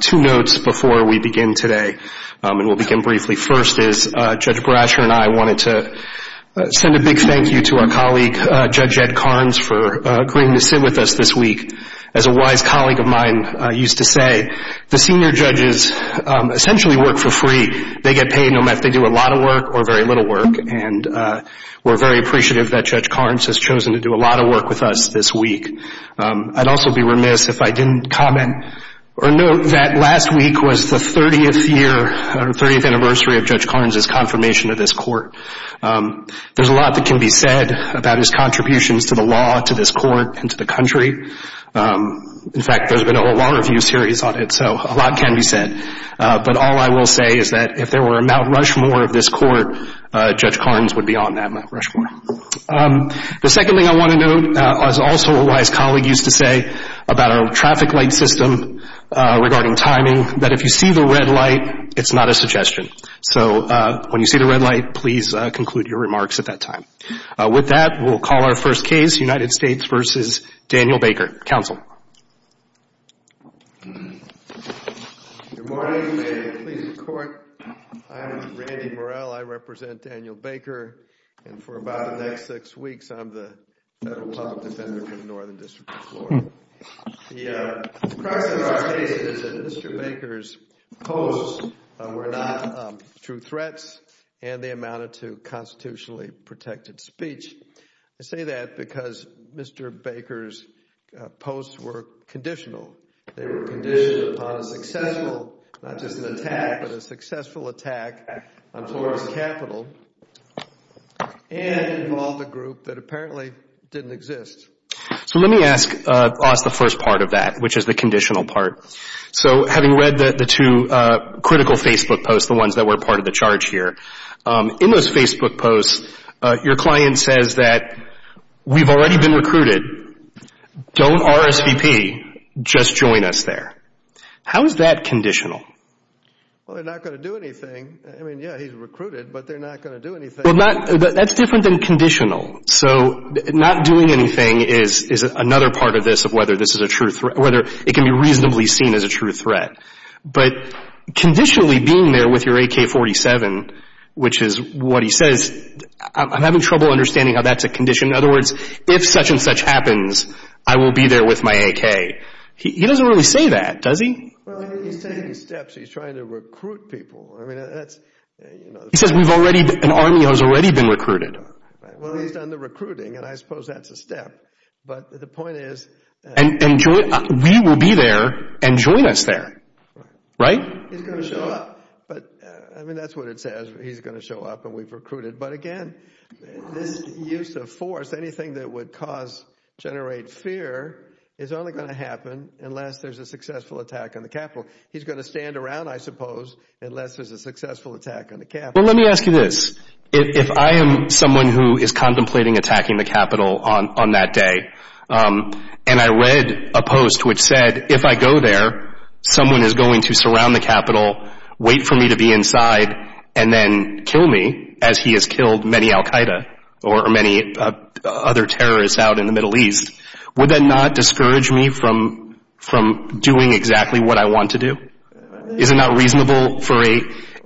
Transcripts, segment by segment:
Two notes before we begin today, and we'll begin briefly. First is Judge Brasher and I wanted to send a big thank you to our colleague, Judge Ed Karnes, for agreeing to sit with us this week. As a wise colleague of mine used to say, the senior judges essentially work for free. They get paid no matter if they do a lot of work or very little work, and we're very appreciative that Judge Karnes has chosen to do a lot of work with us this week. Or note that last week was the 30th year, or 30th anniversary of Judge Karnes' confirmation of this court. There's a lot that can be said about his contributions to the law, to this court, and to the country. In fact, there's been a whole law review series on it, so a lot can be said. But all I will say is that if there were a Mount Rushmore of this court, Judge Karnes would be on that Mount Rushmore. The second thing I want to note, as also a wise colleague used to say, about our traffic light system, regarding timing, that if you see the red light, it's not a suggestion. So when you see the red light, please conclude your remarks at that time. With that, we'll call our first case, United States v. Daniel Baker. Counsel. Good morning, and please record. I am Randy Morell. I represent Daniel Baker, and for about the next six weeks, I'm the Federal Public Defender for the Northern District of Florida. The precedent for our case is that Mr. Baker's posts were not true threats, and they amounted to constitutionally protected speech. I say that because Mr. Baker's posts were conditional. They were conditioned upon a successful, not just an attack, but a successful attack on Florida's capital, and involved a group that apparently didn't exist. So let me ask us the first part of that, which is the conditional part. So having read the two critical Facebook posts, the ones that were part of the charge here, in those Facebook posts, your client says that we've already been recruited. Don't RSVP. Just join us there. How is that conditional? Well, they're not going to do anything. I mean, yeah, he's recruited, but they're not going to do anything. Well, that's different than conditional. So not doing anything is another part of this, of whether this is a true threat, whether it can be reasonably seen as a true threat. But conditionally being there with your AK-47, which is what he says, I'm having trouble understanding how that's a condition. In other words, if such and such happens, I will be there with my AK. He doesn't really say that, does he? Well, he's taking steps. He's trying to recruit people. I mean, that's, you know... He says we've already, an army has already been recruited. Well, he's done the recruiting, and I suppose that's a step. But the point is... And we will be there, and join us there. Right? He's going to show up. But I mean, that's what it says. He's going to show up, and we've recruited. But again, this use of force, anything that would cause, generate fear, is only going to happen unless there's a successful attack on the Capitol. He's going to stand around, I suppose, unless there's a successful attack on the Capitol. Well, let me ask you this. If I am someone who is contemplating attacking the Capitol on that day, and I read a post which said, if I go there, someone is going to surround the Capitol, wait for me to be inside, and then kill me, as he has killed many Al Qaeda, or many other terrorists out in the Middle East, would that not discourage me from doing exactly what I want to do? Is it not reasonable for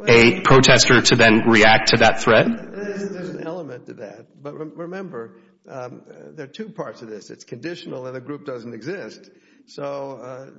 a protester to then react to that threat? There's an element to that. But remember, there are two parts to this. It's conditional, and the group doesn't exist. So,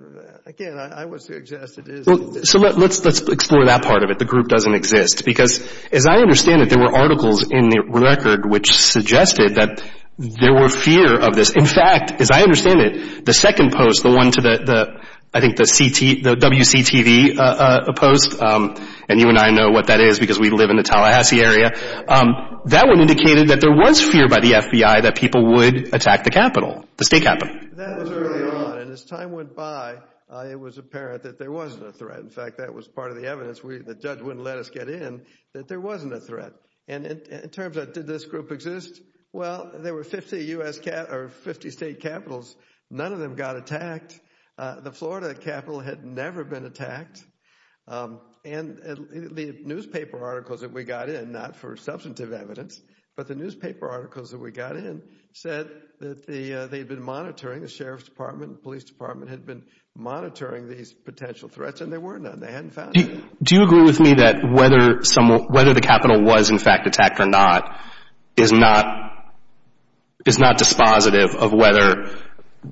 again, I would suggest it is... So, let's explore that part of it, the group doesn't exist. Because, as I understand it, there were articles in the record which suggested that there were fear of this. In fact, as I understand it, the second post, the one to the, I think the WCTV post, and you and I know what that is because we live in the Tallahassee area, that one indicated that there was fear by the FBI that people would attack the Capitol, the State Capitol. That was early on, and as time went by, it was apparent that there wasn't a threat. In fact, that was part of the evidence. The judge wouldn't let us get in that there wasn't a threat. And in terms of, did this group exist? Well, there were 50 U.S. or 50 State Capitals. None of them got attacked. The Florida Capitol had never been attacked. And the newspaper articles that we got in, not for substantive evidence, but the newspaper articles that we got in said that they'd been monitoring, the Sheriff's Department, the Police Department had been monitoring these potential threats, and there were none. They hadn't found any. Do you agree with me that whether the Capitol was, in fact, attacked or not is not dispositive of whether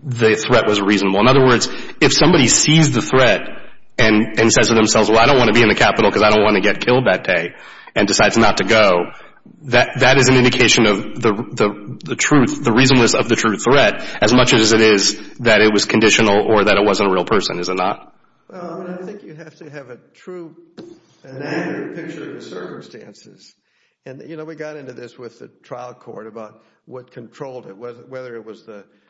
the threat was reasonable? In other words, if somebody sees the threat and says to themselves, well, I don't want to be in the Capitol because I don't want to get killed that day, and decides not to go, that is an indication of the truth, the reasonableness of the true threat, as much as it is that it was conditional or that it wasn't a real person, is it not? Well, I think you have to have a true and accurate picture of the circumstances. And, you know, we got into this with the trial court about what controlled it, whether it was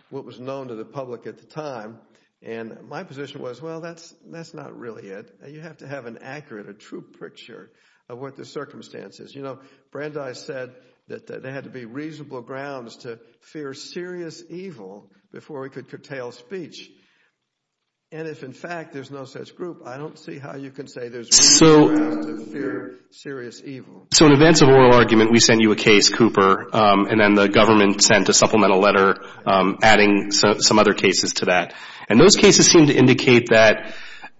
what was known to the public at the time. And my position was, well, that's not really it. You have to have an accurate, a true picture of what the circumstances. You know, Brandeis said that there had to be reasonable grounds to fear serious evil before we could curtail speech. And if, in fact, there's no such group, I don't see how you can say there's reasonable grounds to fear serious evil. So in advance of oral argument, we sent you a case, Cooper, and then the government sent a supplemental letter adding some other cases to that. And those cases seem to indicate that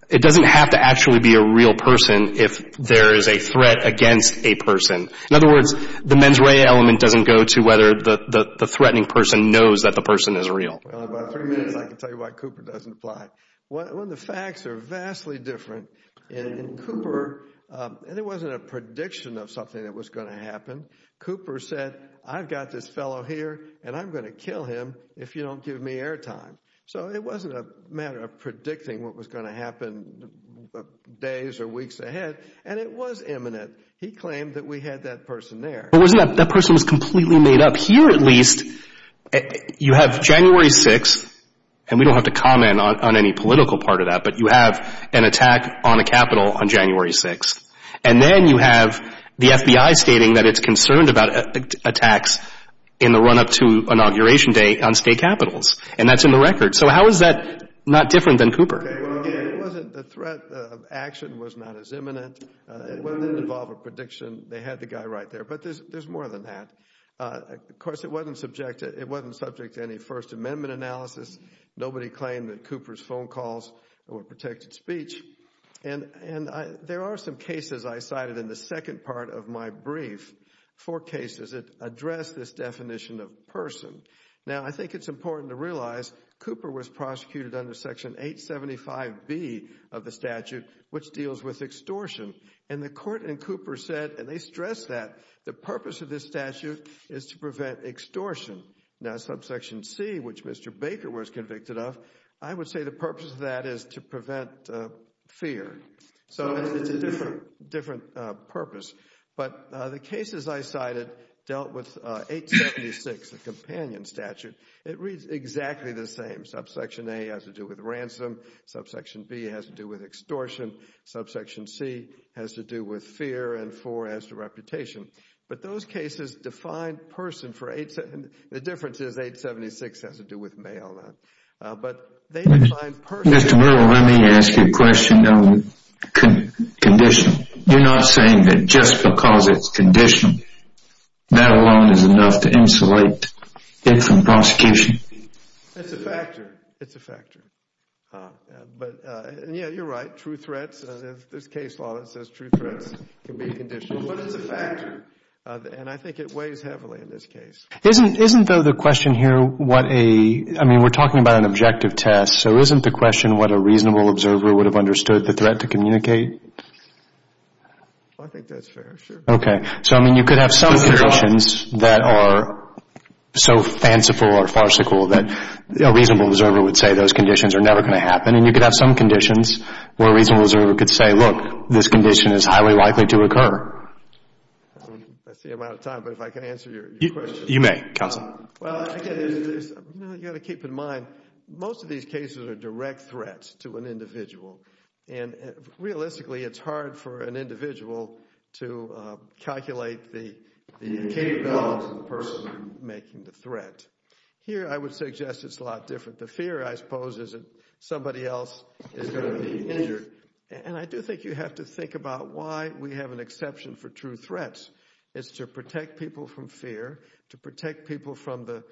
it doesn't have to actually be a real person if there is a threat against a person. In other words, the mens rea element doesn't go to whether the threatening person knows that the person is real. Well, in about three minutes I can tell you why Cooper doesn't apply. When the facts are vastly different in Cooper, and it wasn't a prediction of something that was going to happen. Cooper said, I've got this fellow here and I'm going to kill him if you don't give me air time. So it wasn't a matter of predicting what was going to happen days or weeks ahead. And it was imminent. He claimed that we had that person there. But wasn't that, that person was completely made up. Here at least, you have January 6th, and we don't have to comment on any political part of that, but you have an attack on a Capitol on January 6th. And then you have the FBI stating that it's concerned about attacks in the run up to inauguration day on state capitals. And that's in the record. So how is that not different than Cooper? It wasn't, the threat of action was not as imminent. It didn't involve a prediction. They had the guy right there. But there's more than that. Of course, it wasn't subject to any First Amendment analysis. Nobody claimed that Cooper's phone calls were protected speech. And there are some cases I cited in the second part of my brief for cases that address this definition of person. Now, I think it's important to realize Cooper was prosecuted under Section 875B of the statute, which deals with extortion. And the court in Cooper said, and they stressed that, the purpose of this statute is to prevent extortion. Now, Subsection C, which Mr. Baker was convicted of, I would say the purpose of that is to prevent fear. So it's a different purpose. But the cases I cited dealt with 876, the companion statute. It reads exactly the same. Subsection A has to do with ransom. Subsection B has to do with extortion. Subsection C has to do with fear. And 4 has to do with reputation. But those cases define person for 876. The difference is 876 has to do with mail. But they define person. Mr. Merrill, let me ask you a question on condition. You're not saying that just because it's condition, that alone is enough to insulate it from prosecution? It's a factor. It's a factor. But, yeah, you're right. True threats, there's a case law that says true threats can be a condition. But it's a factor. And I think it weighs heavily in this case. Isn't, though, the question here what a, I mean, we're talking about an objective test. So isn't the question what a reasonable observer would have understood the threat to communicate? I think that's fair, sure. Okay. So, I mean, you could have some conditions that are so fanciful or farcical that a reasonable observer would say those conditions are never going to happen. And you could have some conditions where a reasonable observer could say, look, this condition is highly likely to occur. I see I'm out of time, but if I can answer your question. You may, counsel. Well, again, you've got to keep in mind, most of these cases are direct threats to an individual. And, realistically, it's hard for an individual to calculate the incapable of the person making the threat. Here, I would suggest it's a lot different. The fear, I suppose, is that somebody else is going to be injured. And I do think you have to think about why we have an exception for true threats. It's to protect people from fear, to protect people from the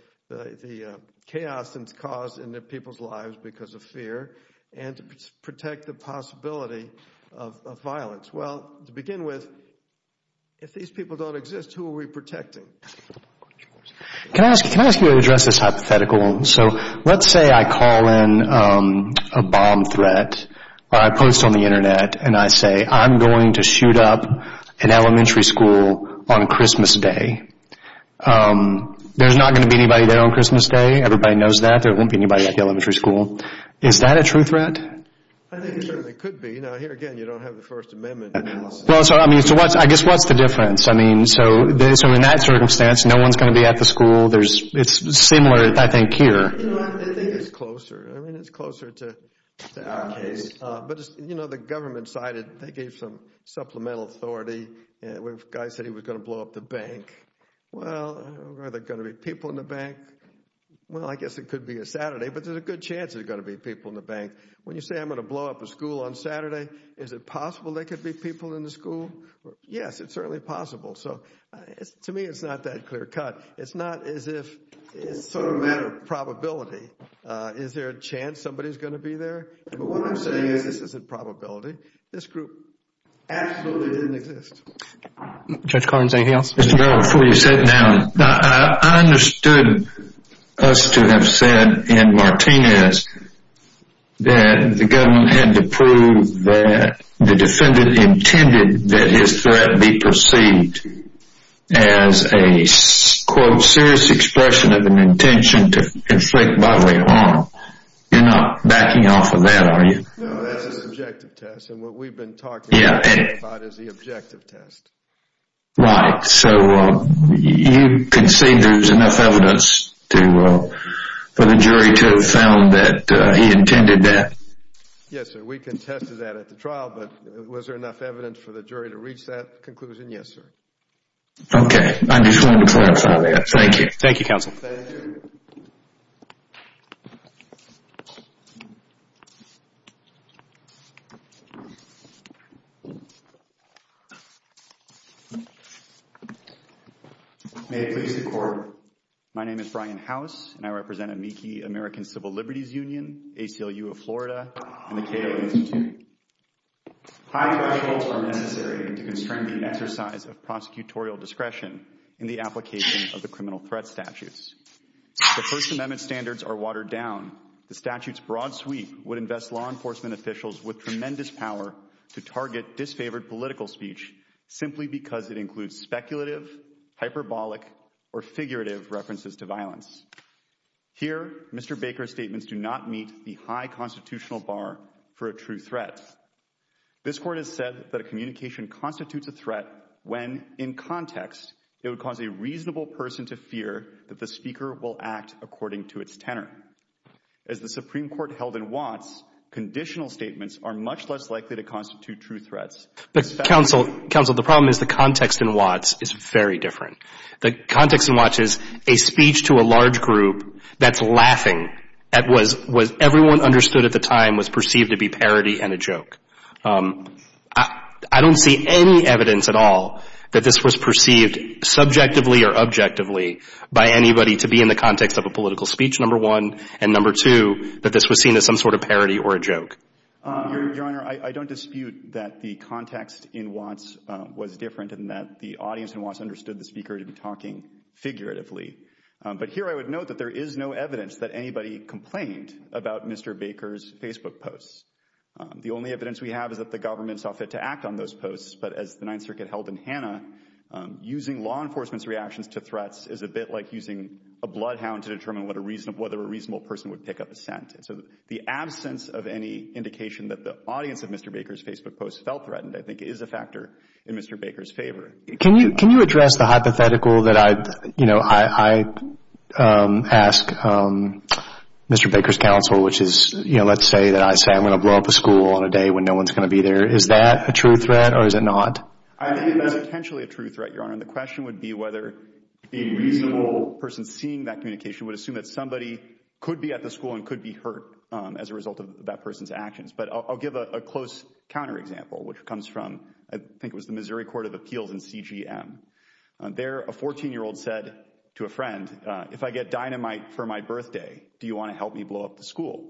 chaos that's going to make the possibility of violence. Well, to begin with, if these people don't exist, who are we protecting? Can I ask you to address this hypothetical? So, let's say I call in a bomb threat or I post on the Internet and I say, I'm going to shoot up an elementary school on Christmas Day. There's not going to be anybody there on Christmas Day. Everybody knows that. There won't be anybody at the elementary school. Is that a true threat? I think it certainly could be. Now, here again, you don't have the First Amendment. So, I guess, what's the difference? So, in that circumstance, no one's going to be at the school. It's similar, I think, here. I think it's closer. I mean, it's closer to our case. But, you know, the government side, they gave some supplemental authority. The guy said he was going to blow up the bank. Well, are there going to be people in the bank? Well, I guess it could be a Saturday, but there's a good chance there's going to be people in the bank. When you say I'm going to blow up a school on Saturday, is it possible there could be people in the school? Yes, it's certainly possible. So, to me, it's not that clear cut. It's not as if it's sort of a matter of probability. Is there a chance somebody's going to be there? But what I'm saying is this isn't probability. This group absolutely didn't exist. Judge Collins, anything else? Mr. Merrill, before you sit down, I understood us to have said in Martinez that the government had to prove that the defendant intended that his threat be perceived as a, quote, serious expression of an intention to inflict bodily harm. You're not backing off of that, are you? No, that's an objective test, and what we've been talking about is the objective test. Right. So you concede there's enough evidence for the jury to have found that he intended that? Yes, sir. We contested that at the trial, but was there enough evidence for the jury to reach that conclusion? Yes, sir. Okay. I just wanted to clarify that. Thank you. Thank you, counsel. Thank you. May it please the Court, my name is Brian House, and I represent AMICI, American Civil Liberties Union, ACLU of Florida, and the Cato Institute. High thresholds are necessary to constrain the exercise of prosecutorial discretion in the application of the criminal threat statutes. If the First Amendment standards are watered down, the statute's broad sweep would invest law enforcement officials with tremendous power to target disfavored political speech simply because it includes speculative, hyperbolic, or figurative references to violence. Here, Mr. Baker's statements do not meet the high constitutional bar for a true threat. This Court has said that a communication constitutes a threat when, in context, it would cause a reasonable person to fear that the speaker will act according to its tenor. As the Supreme Court held in Watts, conditional statements are much less likely to constitute true threats. Counsel, the problem is the context in Watts is very different. The context in Watts is a speech to a large group that's laughing at what everyone understood at the time was perceived to be parody and a joke. I don't see any evidence at all that this was perceived subjectively or objectively by anybody to be in the context of a political speech, number one, and, number two, that this was seen as some sort of parody or a joke. Your Honor, I don't dispute that the context in Watts was different and that the audience in Watts understood the speaker to be talking figuratively. But here I would note that there is no evidence that anybody complained about Mr. Baker's Facebook posts. The only evidence we have is that the government saw fit to act on those posts. But as the Ninth Circuit held in Hanna, using law enforcement's reactions to threats is a bit like using a bloodhound to determine whether a reasonable person would pick up a scent. So the absence of any indication that the audience of Mr. Baker's Facebook posts felt threatened, I think, is a factor in Mr. Baker's favor. Can you address the hypothetical that I, you know, I ask Mr. Baker's counsel, which is, you know, let's say that I say I'm going to blow up a school on a day when no one's going to be there. Is that a true threat or is it not? I think it is potentially a true threat, Your Honor. And the question would be whether a reasonable person seeing that communication would assume that somebody could be at the school and could be hurt as a result of that person's actions. But I'll give a close counterexample, which comes from, I think it was the Missouri Court of Appeals in CGM. There, a 14-year-old said to a friend, if I get dynamite for my birthday, do you want to help me blow up the school?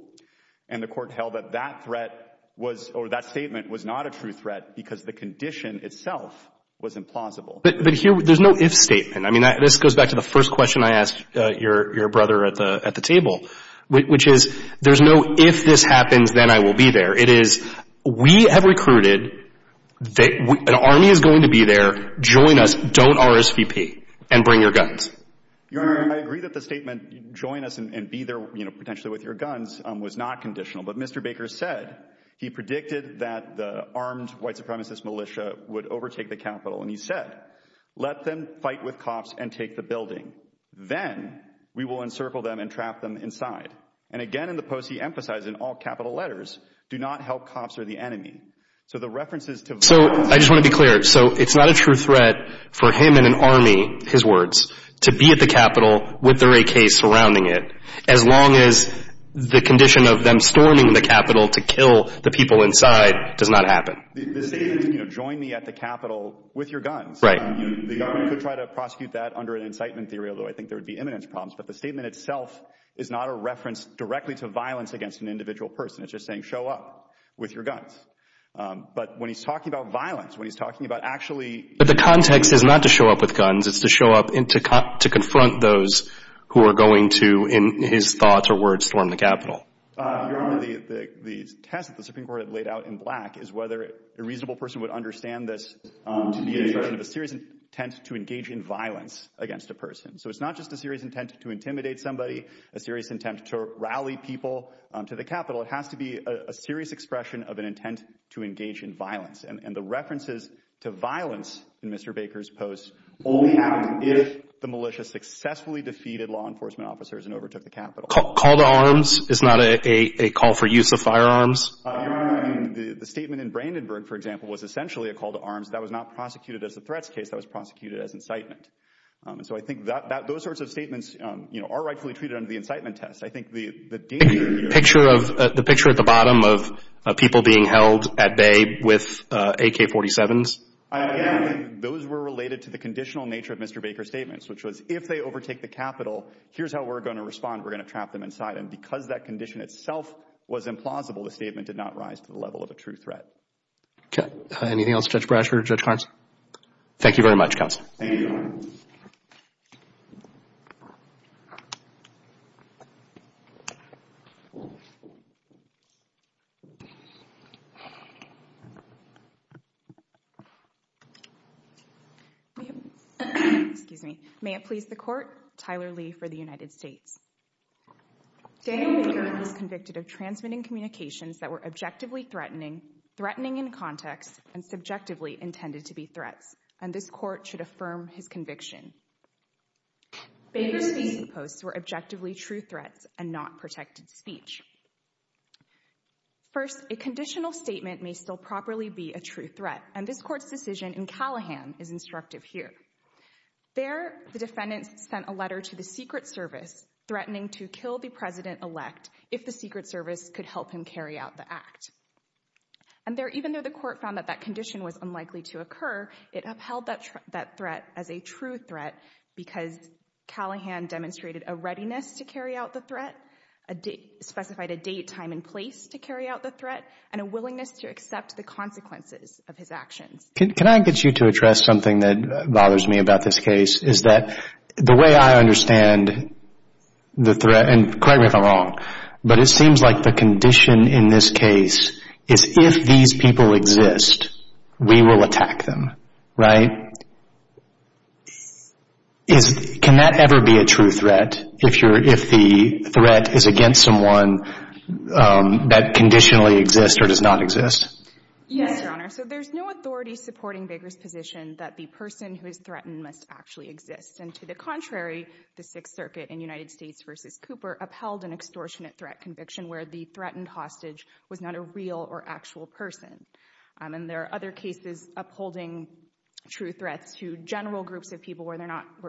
And the court held that that threat was, or that statement was not a true threat because the condition itself was implausible. But here, there's no if statement. I mean, this goes back to the first question I asked your brother at the table, which is there's no if this happens, then I will be there. It is we have recruited, an army is going to be there, join us, don't RSVP, and bring your guns. Your Honor, I agree that the statement join us and be there, you know, potentially with your guns was not conditional. But Mr. Baker said he predicted that the armed white supremacist militia would overtake the Capitol. And he said, let them fight with cops and take the building. Then we will encircle them and trap them inside. And again, in the post, he emphasized in all Capitol letters, do not help cops or the enemy. So I just want to be clear. So it's not a true threat for him and an army, his words, to be at the Capitol with their AK surrounding it, as long as the condition of them storming the Capitol to kill the people inside does not happen. The statement, you know, join me at the Capitol with your guns. Right. The Army could try to prosecute that under an incitement theory, although I think there would be imminence problems. But the statement itself is not a reference directly to violence against an individual person. It's just saying, show up with your guns. But when he's talking about violence, when he's talking about actually. But the context is not to show up with guns. It's to show up and to confront those who are going to, in his thoughts or words, storm the Capitol. The test the Supreme Court had laid out in black is whether a reasonable person would understand this. You have a serious intent to engage in violence against a person. So it's not just a serious intent to intimidate somebody, a serious intent to rally people to the Capitol. It has to be a serious expression of an intent to engage in violence. And the references to violence in Mr. Baker's post only happened if the militia successfully defeated law enforcement officers and overtook the Capitol. Call to arms is not a call for use of firearms. The statement in Brandenburg, for example, was essentially a call to arms that was not prosecuted as a threats case. That was prosecuted as incitement. So I think that those sorts of statements are rightfully treated under the incitement test. The picture at the bottom of people being held at bay with AK-47s? Again, those were related to the conditional nature of Mr. Baker's statements, which was if they overtake the Capitol, here's how we're going to respond. We're going to trap them inside. And because that condition itself was implausible, the statement did not rise to the level of a true threat. Okay. Anything else, Judge Brash or Judge Carnes? Thank you very much, Counsel. Thank you. Excuse me. May it please the Court. Tyler Lee for the United States. Daniel Baker was convicted of transmitting communications that were objectively threatening, threatening in context, and subjectively intended to be threats. And this Court should affirm his conviction. Baker's speech posts were objectively true threats and not protected speech. First, a conditional statement may still properly be a true threat, and this Court's decision in Callahan is instructive here. There, the defendant sent a letter to the Secret Service threatening to kill the President-elect if the Secret Service could help him carry out the act. And there, even though the Court found that that condition was unlikely to occur, it upheld that threat as a true threat, because Callahan demonstrated a readiness to carry out the threat, specified a date, time, and place to carry out the threat, and a willingness to accept the consequences of his actions. Can I get you to address something that bothers me about this case? Is that the way I understand the threat, and correct me if I'm wrong, but it seems like the condition in this case is if these people exist, we will attack them, right? Can that ever be a true threat if the threat is against someone that conditionally exists or does not exist? Yes, Your Honor. So there's no authority supporting Baker's position that the person who is threatened must actually exist. And to the contrary, the Sixth Circuit in United States v. Cooper upheld an extortionate threat conviction where the threatened hostage was not a real or actual person. And there are other cases upholding true threats to general groups of people where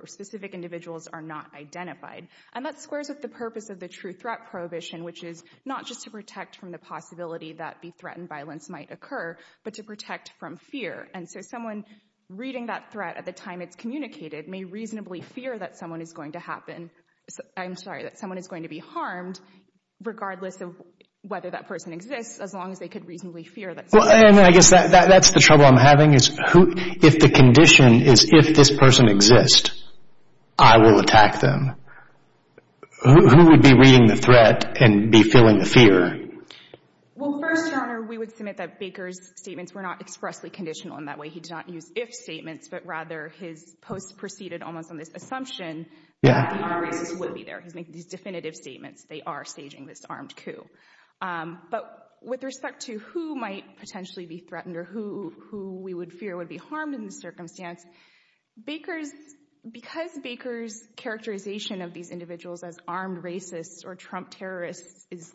specific individuals are not identified. And that squares with the purpose of the true threat prohibition, which is not just to protect from the possibility that the threatened violence might occur, but to protect from fear. And so someone reading that threat at the time it's communicated may reasonably fear that someone is going to happen. I'm sorry, that someone is going to be harmed, regardless of whether that person exists, as long as they could reasonably fear that someone is going to be harmed. Well, and I guess that's the trouble I'm having is if the condition is if this person exists, I will attack them. Who would be reading the threat and be feeling the fear? Well, first, Your Honor, we would submit that Baker's statements were not expressly conditional in that way. He did not use if statements, but rather his posts proceeded almost on this assumption that the armed racist would be there. He's making these definitive statements. They are staging this armed coup. But with respect to who might potentially be threatened or who we would fear would be harmed in this circumstance, because Baker's characterization of these individuals as armed racists or Trump terrorists is,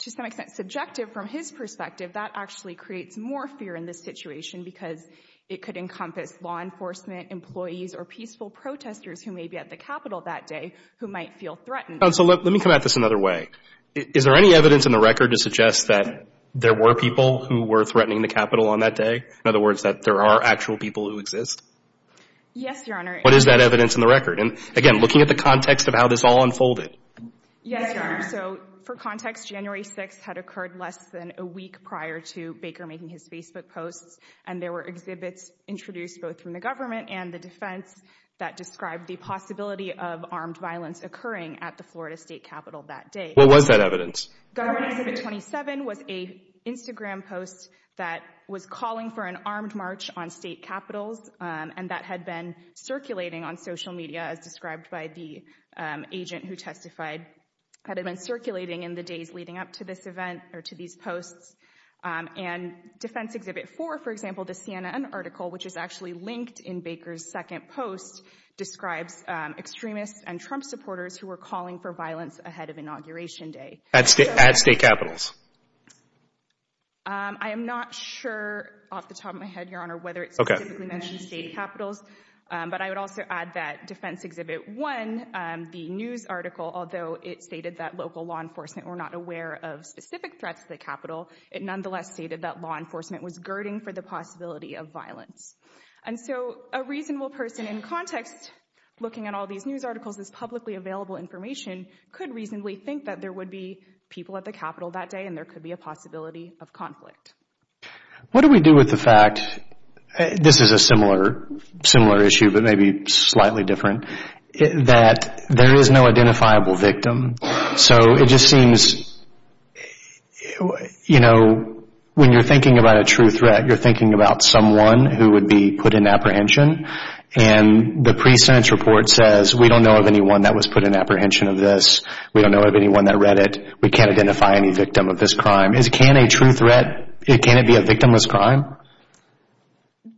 to some extent, subjective from his perspective, that actually creates more fear in this situation because it could encompass law enforcement, employees, or peaceful protesters who may be at the Capitol that day who might feel threatened. Counsel, let me come at this another way. Is there any evidence in the record to suggest that there were people who were threatening the Capitol on that day? In other words, that there are actual people who exist? Yes, Your Honor. What is that evidence in the record? And, again, looking at the context of how this all unfolded. Yes, Your Honor. So, for context, January 6th had occurred less than a week prior to Baker making his Facebook posts, and there were exhibits introduced both from the government and the defense that described the possibility of armed violence occurring at the Florida State Capitol that day. What was that evidence? Government Exhibit 27 was an Instagram post that was calling for an armed march on state capitals, and that had been circulating on social media as described by the agent who testified. It had been circulating in the days leading up to this event or to these posts. And Defense Exhibit 4, for example, the CNN article, which is actually linked in Baker's second post, describes extremists and Trump supporters who were calling for violence ahead of Inauguration Day. At state capitals? I am not sure off the top of my head, Your Honor, whether it specifically mentions state capitals, but I would also add that Defense Exhibit 1, the news article, although it stated that local law enforcement were not aware of specific threats to the Capitol, it nonetheless stated that law enforcement was girding for the possibility of violence. And so a reasonable person in context, looking at all these news articles, this publicly available information, could reasonably think that there would be people at the Capitol that day and there could be a possibility of conflict. What do we do with the fact, this is a similar issue but maybe slightly different, that there is no identifiable victim? So it just seems, you know, when you're thinking about a true threat, you're thinking about someone who would be put in apprehension. And the pre-sentence report says, we don't know of anyone that was put in apprehension of this. We don't know of anyone that read it. We can't identify any victim of this crime. Can a true threat, can it be a victimless crime?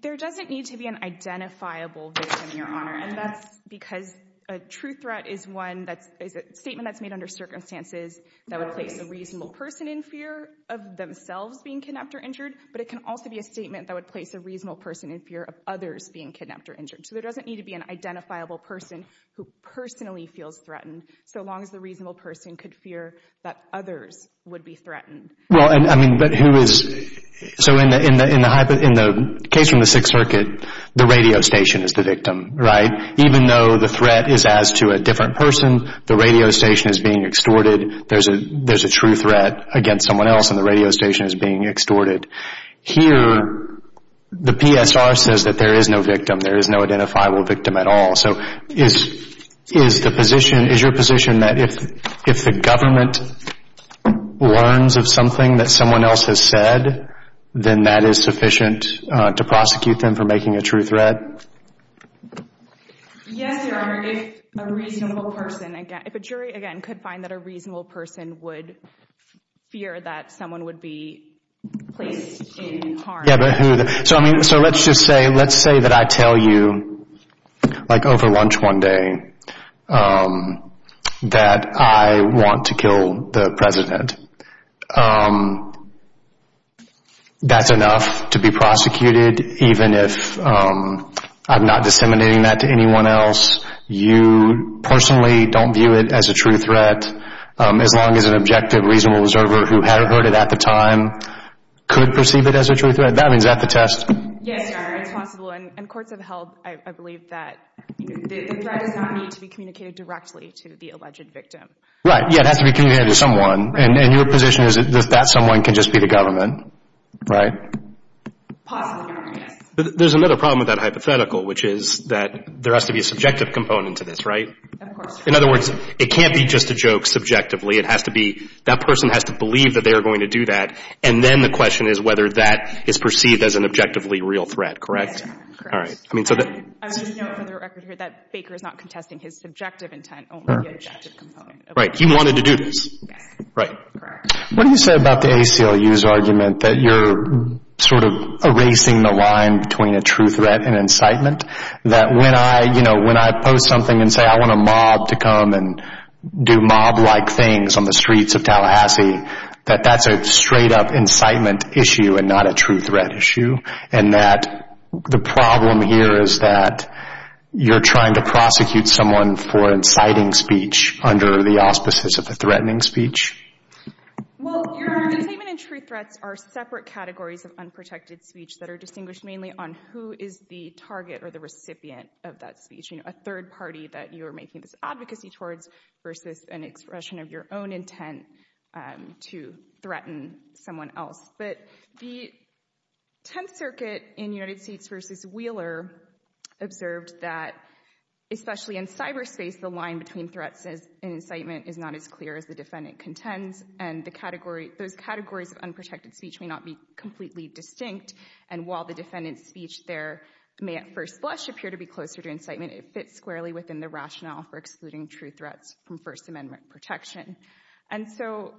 There doesn't need to be an identifiable victim, Your Honor. And that's because a true threat is a statement that's made under circumstances that would place a reasonable person in fear of themselves being kidnapped or injured, but it can also be a statement that would place a reasonable person in fear of others being kidnapped or injured. So there doesn't need to be an identifiable person who personally feels threatened, so long as the reasonable person could fear that others would be threatened. Well, I mean, but who is... So in the case from the Sixth Circuit, the radio station is the victim, right? Even though the threat is as to a different person, the radio station is being extorted. There's a true threat against someone else, and the radio station is being extorted. Here, the PSR says that there is no victim. There is no identifiable victim at all. So is the position, is your position that if the government learns of something that someone else has said, then that is sufficient to prosecute them for making a true threat? Yes, Your Honor, if a reasonable person, if a jury, again, could find that a reasonable person would fear that someone would be placed in harm. So let's just say that I tell you, like over lunch one day, that I want to kill the president. That's enough to be prosecuted, even if I'm not disseminating that to anyone else. You personally don't view it as a true threat, as long as an objective, reasonable observer who had heard it at the time could perceive it as a true threat. That means, is that the test? Yes, Your Honor, it's possible. And courts have held, I believe, that the threat does not need to be communicated directly to the alleged victim. Right, yeah, it has to be communicated to someone. And your position is that that someone can just be the government, right? Possibly, Your Honor, yes. There's another problem with that hypothetical, which is that there has to be a subjective component to this, right? Of course. In other words, it can't be just a joke subjectively. It has to be, that person has to believe that they are going to do that. And then the question is whether that is perceived as an objectively real threat, correct? Yes, Your Honor, correct. All right. I mean, so that— I would note for the record here that Baker is not contesting his subjective intent, only the objective component. Right, he wanted to do this. Yes. Right. Correct. What do you say about the ACLU's argument that you're sort of erasing the line between a true threat and incitement? That when I, you know, when I post something and say I want a mob to come and do mob-like things on the streets of Tallahassee, that that's a straight-up incitement issue and not a true threat issue? And that the problem here is that you're trying to prosecute someone for inciting speech under the auspices of a threatening speech? Well, Your Honor, incitement and true threats are separate categories of unprotected speech that are distinguished mainly on who is the target or the recipient of that speech, you know, a third party that you are making this advocacy towards versus an expression of your own intent to threaten someone else. But the Tenth Circuit in United States v. Wheeler observed that especially in cyberspace, the line between threats and incitement is not as clear as the defendant contends, and those categories of unprotected speech may not be completely distinct. And while the defendant's speech there may at first blush appear to be closer to incitement, it fits squarely within the rationale for excluding true threats from First Amendment protection. And so—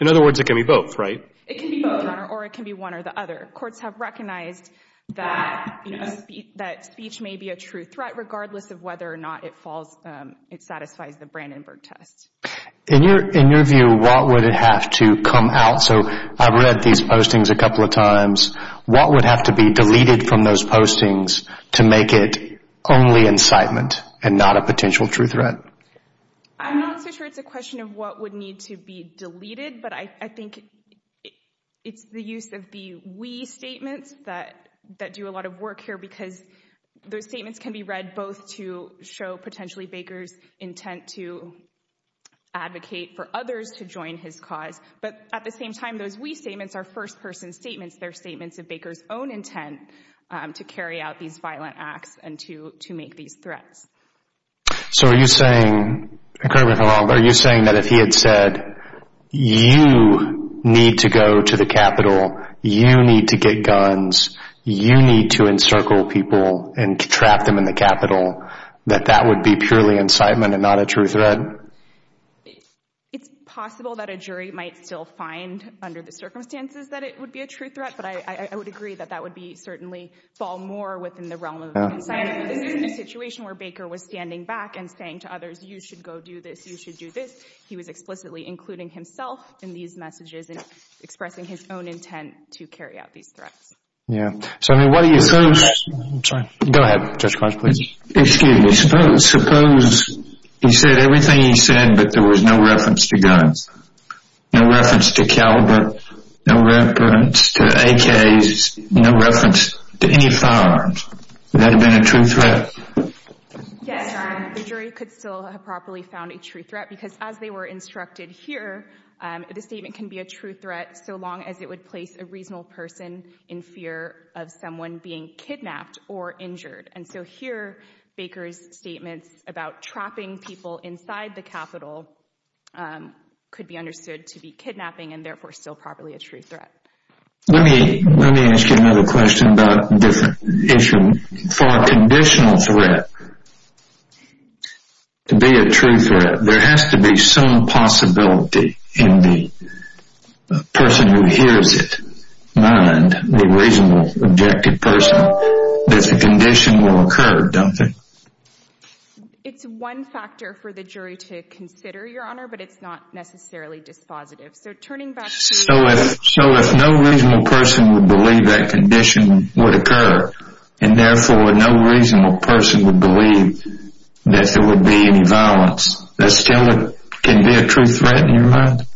In other words, it can be both, right? It can be both, Your Honor, or it can be one or the other. Courts have recognized that speech may be a true threat regardless of whether or not it satisfies the Brandenburg test. In your view, what would have to come out? So I've read these postings a couple of times. What would have to be deleted from those postings to make it only incitement and not a potential true threat? I'm not so sure it's a question of what would need to be deleted, but I think it's the use of the we statements that do a lot of work here because those statements can be read both to show potentially Baker's intent to advocate for others to join his cause, but at the same time, those we statements are first-person statements. They're statements of Baker's own intent to carry out these violent acts and to make these threats. So are you saying, and correct me if I'm wrong, but are you saying that if he had said, you need to go to the Capitol, you need to get guns, you need to encircle people and trap them in the Capitol, that that would be purely incitement and not a true threat? It's possible that a jury might still find under the circumstances that it would be a true threat, but I would agree that that would certainly fall more within the realm of incitement. This isn't a situation where Baker was standing back and saying to others, you should go do this, you should do this. He was explicitly including himself in these messages and expressing his own intent to carry out these threats. Yeah. So, I mean, what do you suppose... I'm sorry. Go ahead, Judge Kosh, please. Excuse me. Suppose he said everything he said, but there was no reference to guns, no reference to caliber, no reference to AKs, no reference to any firearms, would that have been a true threat? Yes, Your Honor. The jury could still have properly found a true threat because as they were instructed here, the statement can be a true threat so long as it would place a reasonable person in fear of someone being kidnapped or injured. And so here, Baker's statements about trapping people inside the Capitol could be understood to be kidnapping and therefore still probably a true threat. Let me ask you another question about a different issue. For a conditional threat to be a true threat, there has to be some possibility in the person who hears it mind, the reasonable, objective person, that a condition will occur, don't they? It's one factor for the jury to consider, Your Honor, but it's not necessarily dispositive. So if no reasonable person would believe that condition would occur and therefore no reasonable person would believe that there would be any violence, that still can be a true threat in your mind?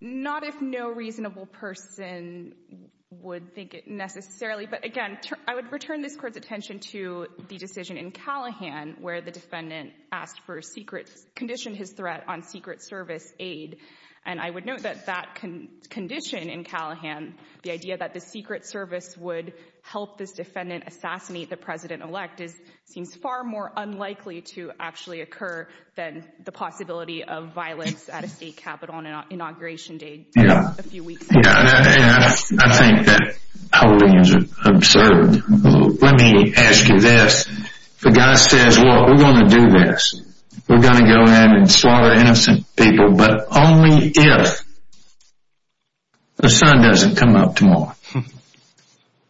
Not if no reasonable person would think it necessarily, but again, I would return this Court's attention to the decision in Callahan where the defendant asked for a secret condition, his threat on secret service aid, and I would note that that condition in Callahan, the idea that the secret service would help this defendant assassinate the president-elect, seems far more unlikely to actually occur than the possibility of violence at a State Capitol on Inauguration Day just a few weeks ago. Yeah, and I think that holding is absurd. Let me ask you this. The guy says, well, we're going to do this. We're going to go ahead and slaughter innocent people, but only if the sun doesn't come up tomorrow.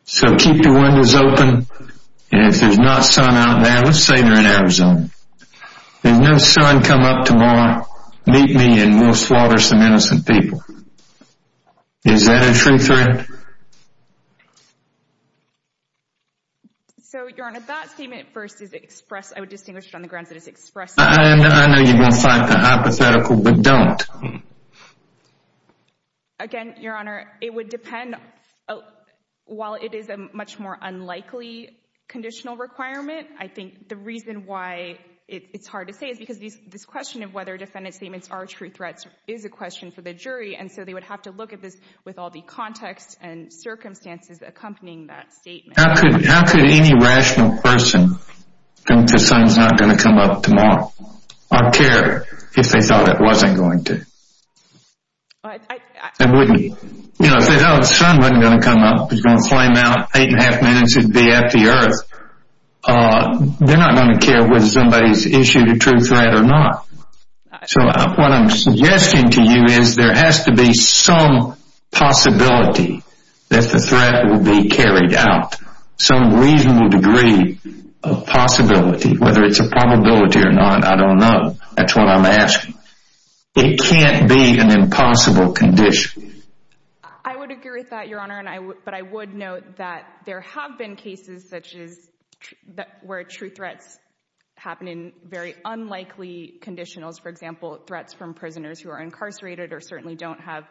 So keep your windows open, and if there's not sun out now, let's say you're in Arizona. If no sun come up tomorrow, meet me and we'll slaughter some innocent people. Is that a true threat? So, Your Honor, that statement first is expressed, I would distinguish it on the grounds that it's expressed. I know you're going to cite the hypothetical, but don't. Again, Your Honor, it would depend. While it is a much more unlikely conditional requirement, I think the reason why it's hard to say is because this question of whether defendant statements are true threats is a question for the jury, and so they would have to look at this with all the context and circumstances accompanying that statement. How could any rational person think the sun's not going to come up tomorrow or care if they thought it wasn't going to? They wouldn't. If they thought the sun wasn't going to come up, it was going to flame out, eight and a half minutes, it would be at the earth. They're not going to care whether somebody's issued a true threat or not. So what I'm suggesting to you is there has to be some possibility that the threat will be carried out, some reasonable degree of possibility. Whether it's a probability or not, I don't know. That's what I'm asking. It can't be an impossible condition. I would agree with that, Your Honor, but I would note that there have been cases such as where true threats happen in very unlikely conditionals, for example, threats from prisoners who are incarcerated or certainly don't have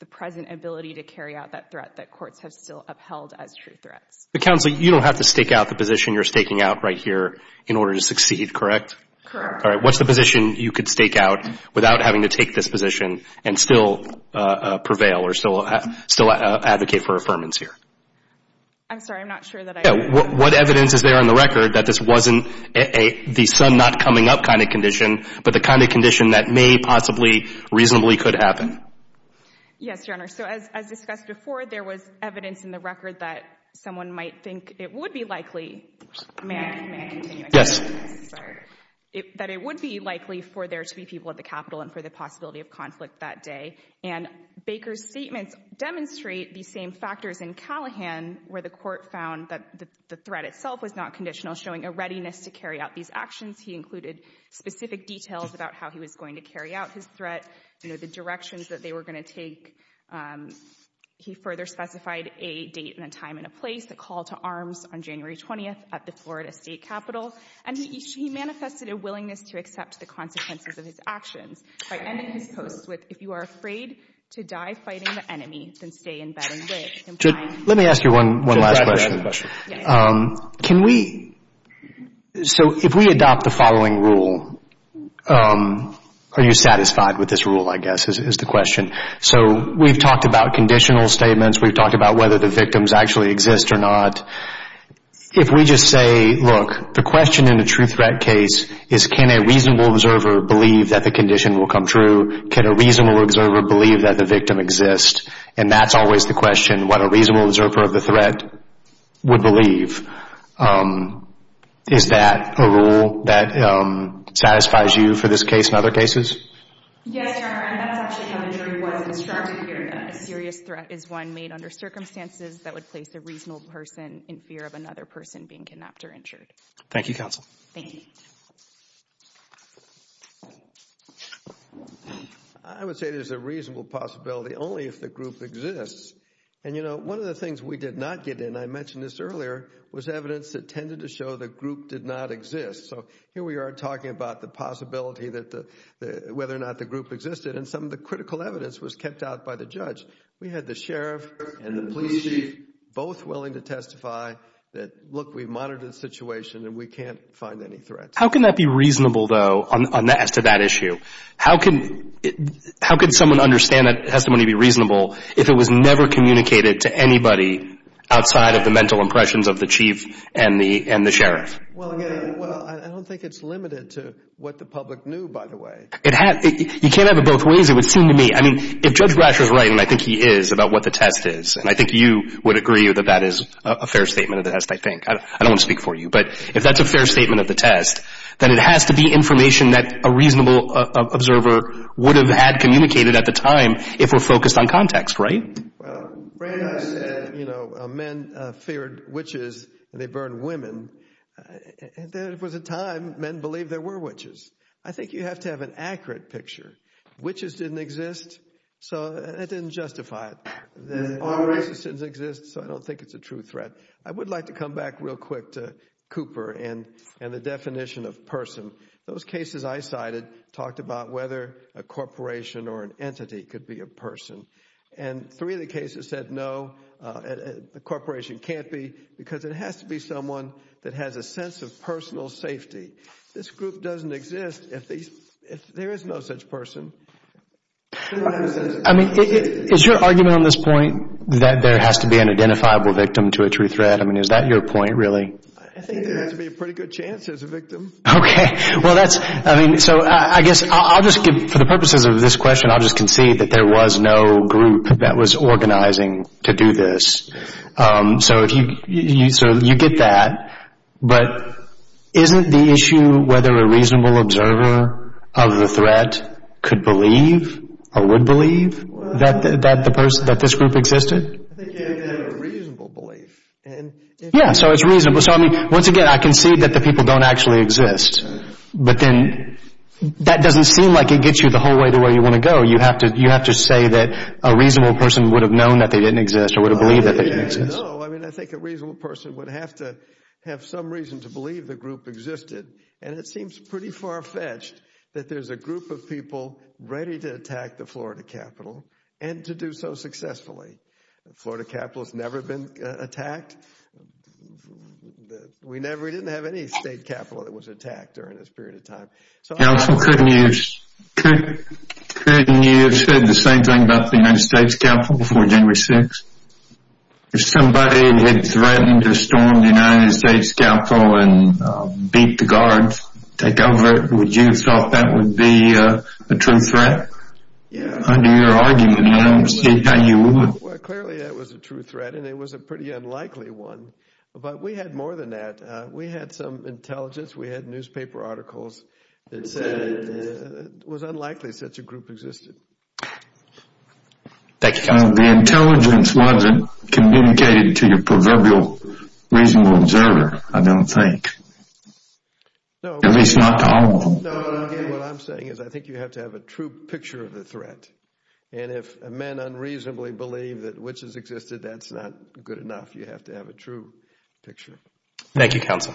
the present ability to carry out that threat that courts have still upheld as true threats. Counsel, you don't have to stake out the position you're staking out right here in order to succeed, correct? Correct. All right. What's the position you could stake out without having to take this position and still prevail or still advocate for affirmance here? I'm sorry. I'm not sure that I could. What evidence is there on the record that this wasn't the sun not coming up but the kind of condition that may possibly reasonably could happen? Yes, Your Honor. So as discussed before, there was evidence in the record that someone might think it would be likely. May I continue? Yes. Sorry. That it would be likely for there to be people at the Capitol and for the possibility of conflict that day. And Baker's statements demonstrate the same factors in Callahan where the court found that the threat itself was not conditional, showing a readiness to carry out these actions. He included specific details about how he was going to carry out his threat, the directions that they were going to take. He further specified a date and a time and a place, the call to arms on January 20th at the Florida State Capitol. And he manifested a willingness to accept the consequences of his actions by ending his post with, if you are afraid to die fighting the enemy, then stay in bed and wait. Let me ask you one last question. Yes. Can we, so if we adopt the following rule, are you satisfied with this rule, I guess, is the question. So we've talked about conditional statements. We've talked about whether the victims actually exist or not. If we just say, look, the question in a true threat case is, can a reasonable observer believe that the condition will come true? Can a reasonable observer believe that the victim exists? And that's always the question, what a reasonable observer of the threat would believe. Is that a rule that satisfies you for this case and other cases? Yes, Your Honor. And that's actually how the jury was instructed here, that a serious threat is one made under circumstances that would place a reasonable person in fear of another person being kidnapped or injured. Thank you, counsel. Thank you. I would say there's a reasonable possibility only if the group exists. And, you know, one of the things we did not get in, I mentioned this earlier, was evidence that tended to show the group did not exist. So here we are talking about the possibility that the, whether or not the group existed, and some of the critical evidence was kept out by the judge. We had the sheriff and the police chief both willing to testify that, look, we've monitored the situation and we can't find any threats. How can that be reasonable, though, as to that issue? How can someone understand that testimony to be reasonable if it was never communicated to anybody outside of the mental impressions of the chief and the sheriff? Well, I don't think it's limited to what the public knew, by the way. You can't have it both ways, it would seem to me. I mean, if Judge Brasher is right, and I think he is, about what the test is, and I think you would agree that that is a fair statement of the test, I think. I don't want to speak for you. But if that's a fair statement of the test, then it has to be information that a reasonable observer would have had communicated at the time if we're focused on context, right? Well, Brandeis said, you know, men feared witches and they burned women. There was a time men believed there were witches. I think you have to have an accurate picture. Witches didn't exist, so that didn't justify it. There are races that exist, so I don't think it's a true threat. I would like to come back real quick to Cooper and the definition of person. Those cases I cited talked about whether a corporation or an entity could be a person, and three of the cases said no, a corporation can't be, because it has to be someone that has a sense of personal safety. This group doesn't exist if there is no such person. I mean, is your argument on this point that there has to be an identifiable victim to a true threat? I mean, is that your point really? I think there has to be a pretty good chance there's a victim. Okay. Well, that's, I mean, so I guess I'll just give, for the purposes of this question, I'll just concede that there was no group that was organizing to do this. So you get that. But isn't the issue whether a reasonable observer of the threat could believe or would believe that this group existed? I think you have to have a reasonable belief. Yeah, so it's reasonable. So, I mean, once again, I concede that the people don't actually exist, but then that doesn't seem like it gets you the whole way to where you want to go. You have to say that a reasonable person would have known that they didn't exist or would have believed that they didn't exist. No, I mean, I think a reasonable person would have to have some reason to believe the group existed, and it seems pretty far-fetched that there's a group of people ready to attack the Florida Capitol and to do so successfully. The Florida Capitol has never been attacked. We never, we didn't have any state capitol that was attacked during this period of time. Counsel, couldn't you have said the same thing about the United States Capitol before January 6th? If somebody had threatened to storm the United States Capitol and beat the guards, take over, would you have thought that would be a true threat? Under your argument, I don't see how you would. Well, clearly that was a true threat, and it was a pretty unlikely one. But we had more than that. We had some intelligence. We had newspaper articles that said it was unlikely such a group existed. The intelligence wasn't communicated to your proverbial reasonable observer, I don't think, at least not to all of them. No, what I'm saying is I think you have to have a true picture of the threat, and if a man unreasonably believed that witches existed, that's not good enough. You have to have a true picture. Thank you, Counsel. Thank you.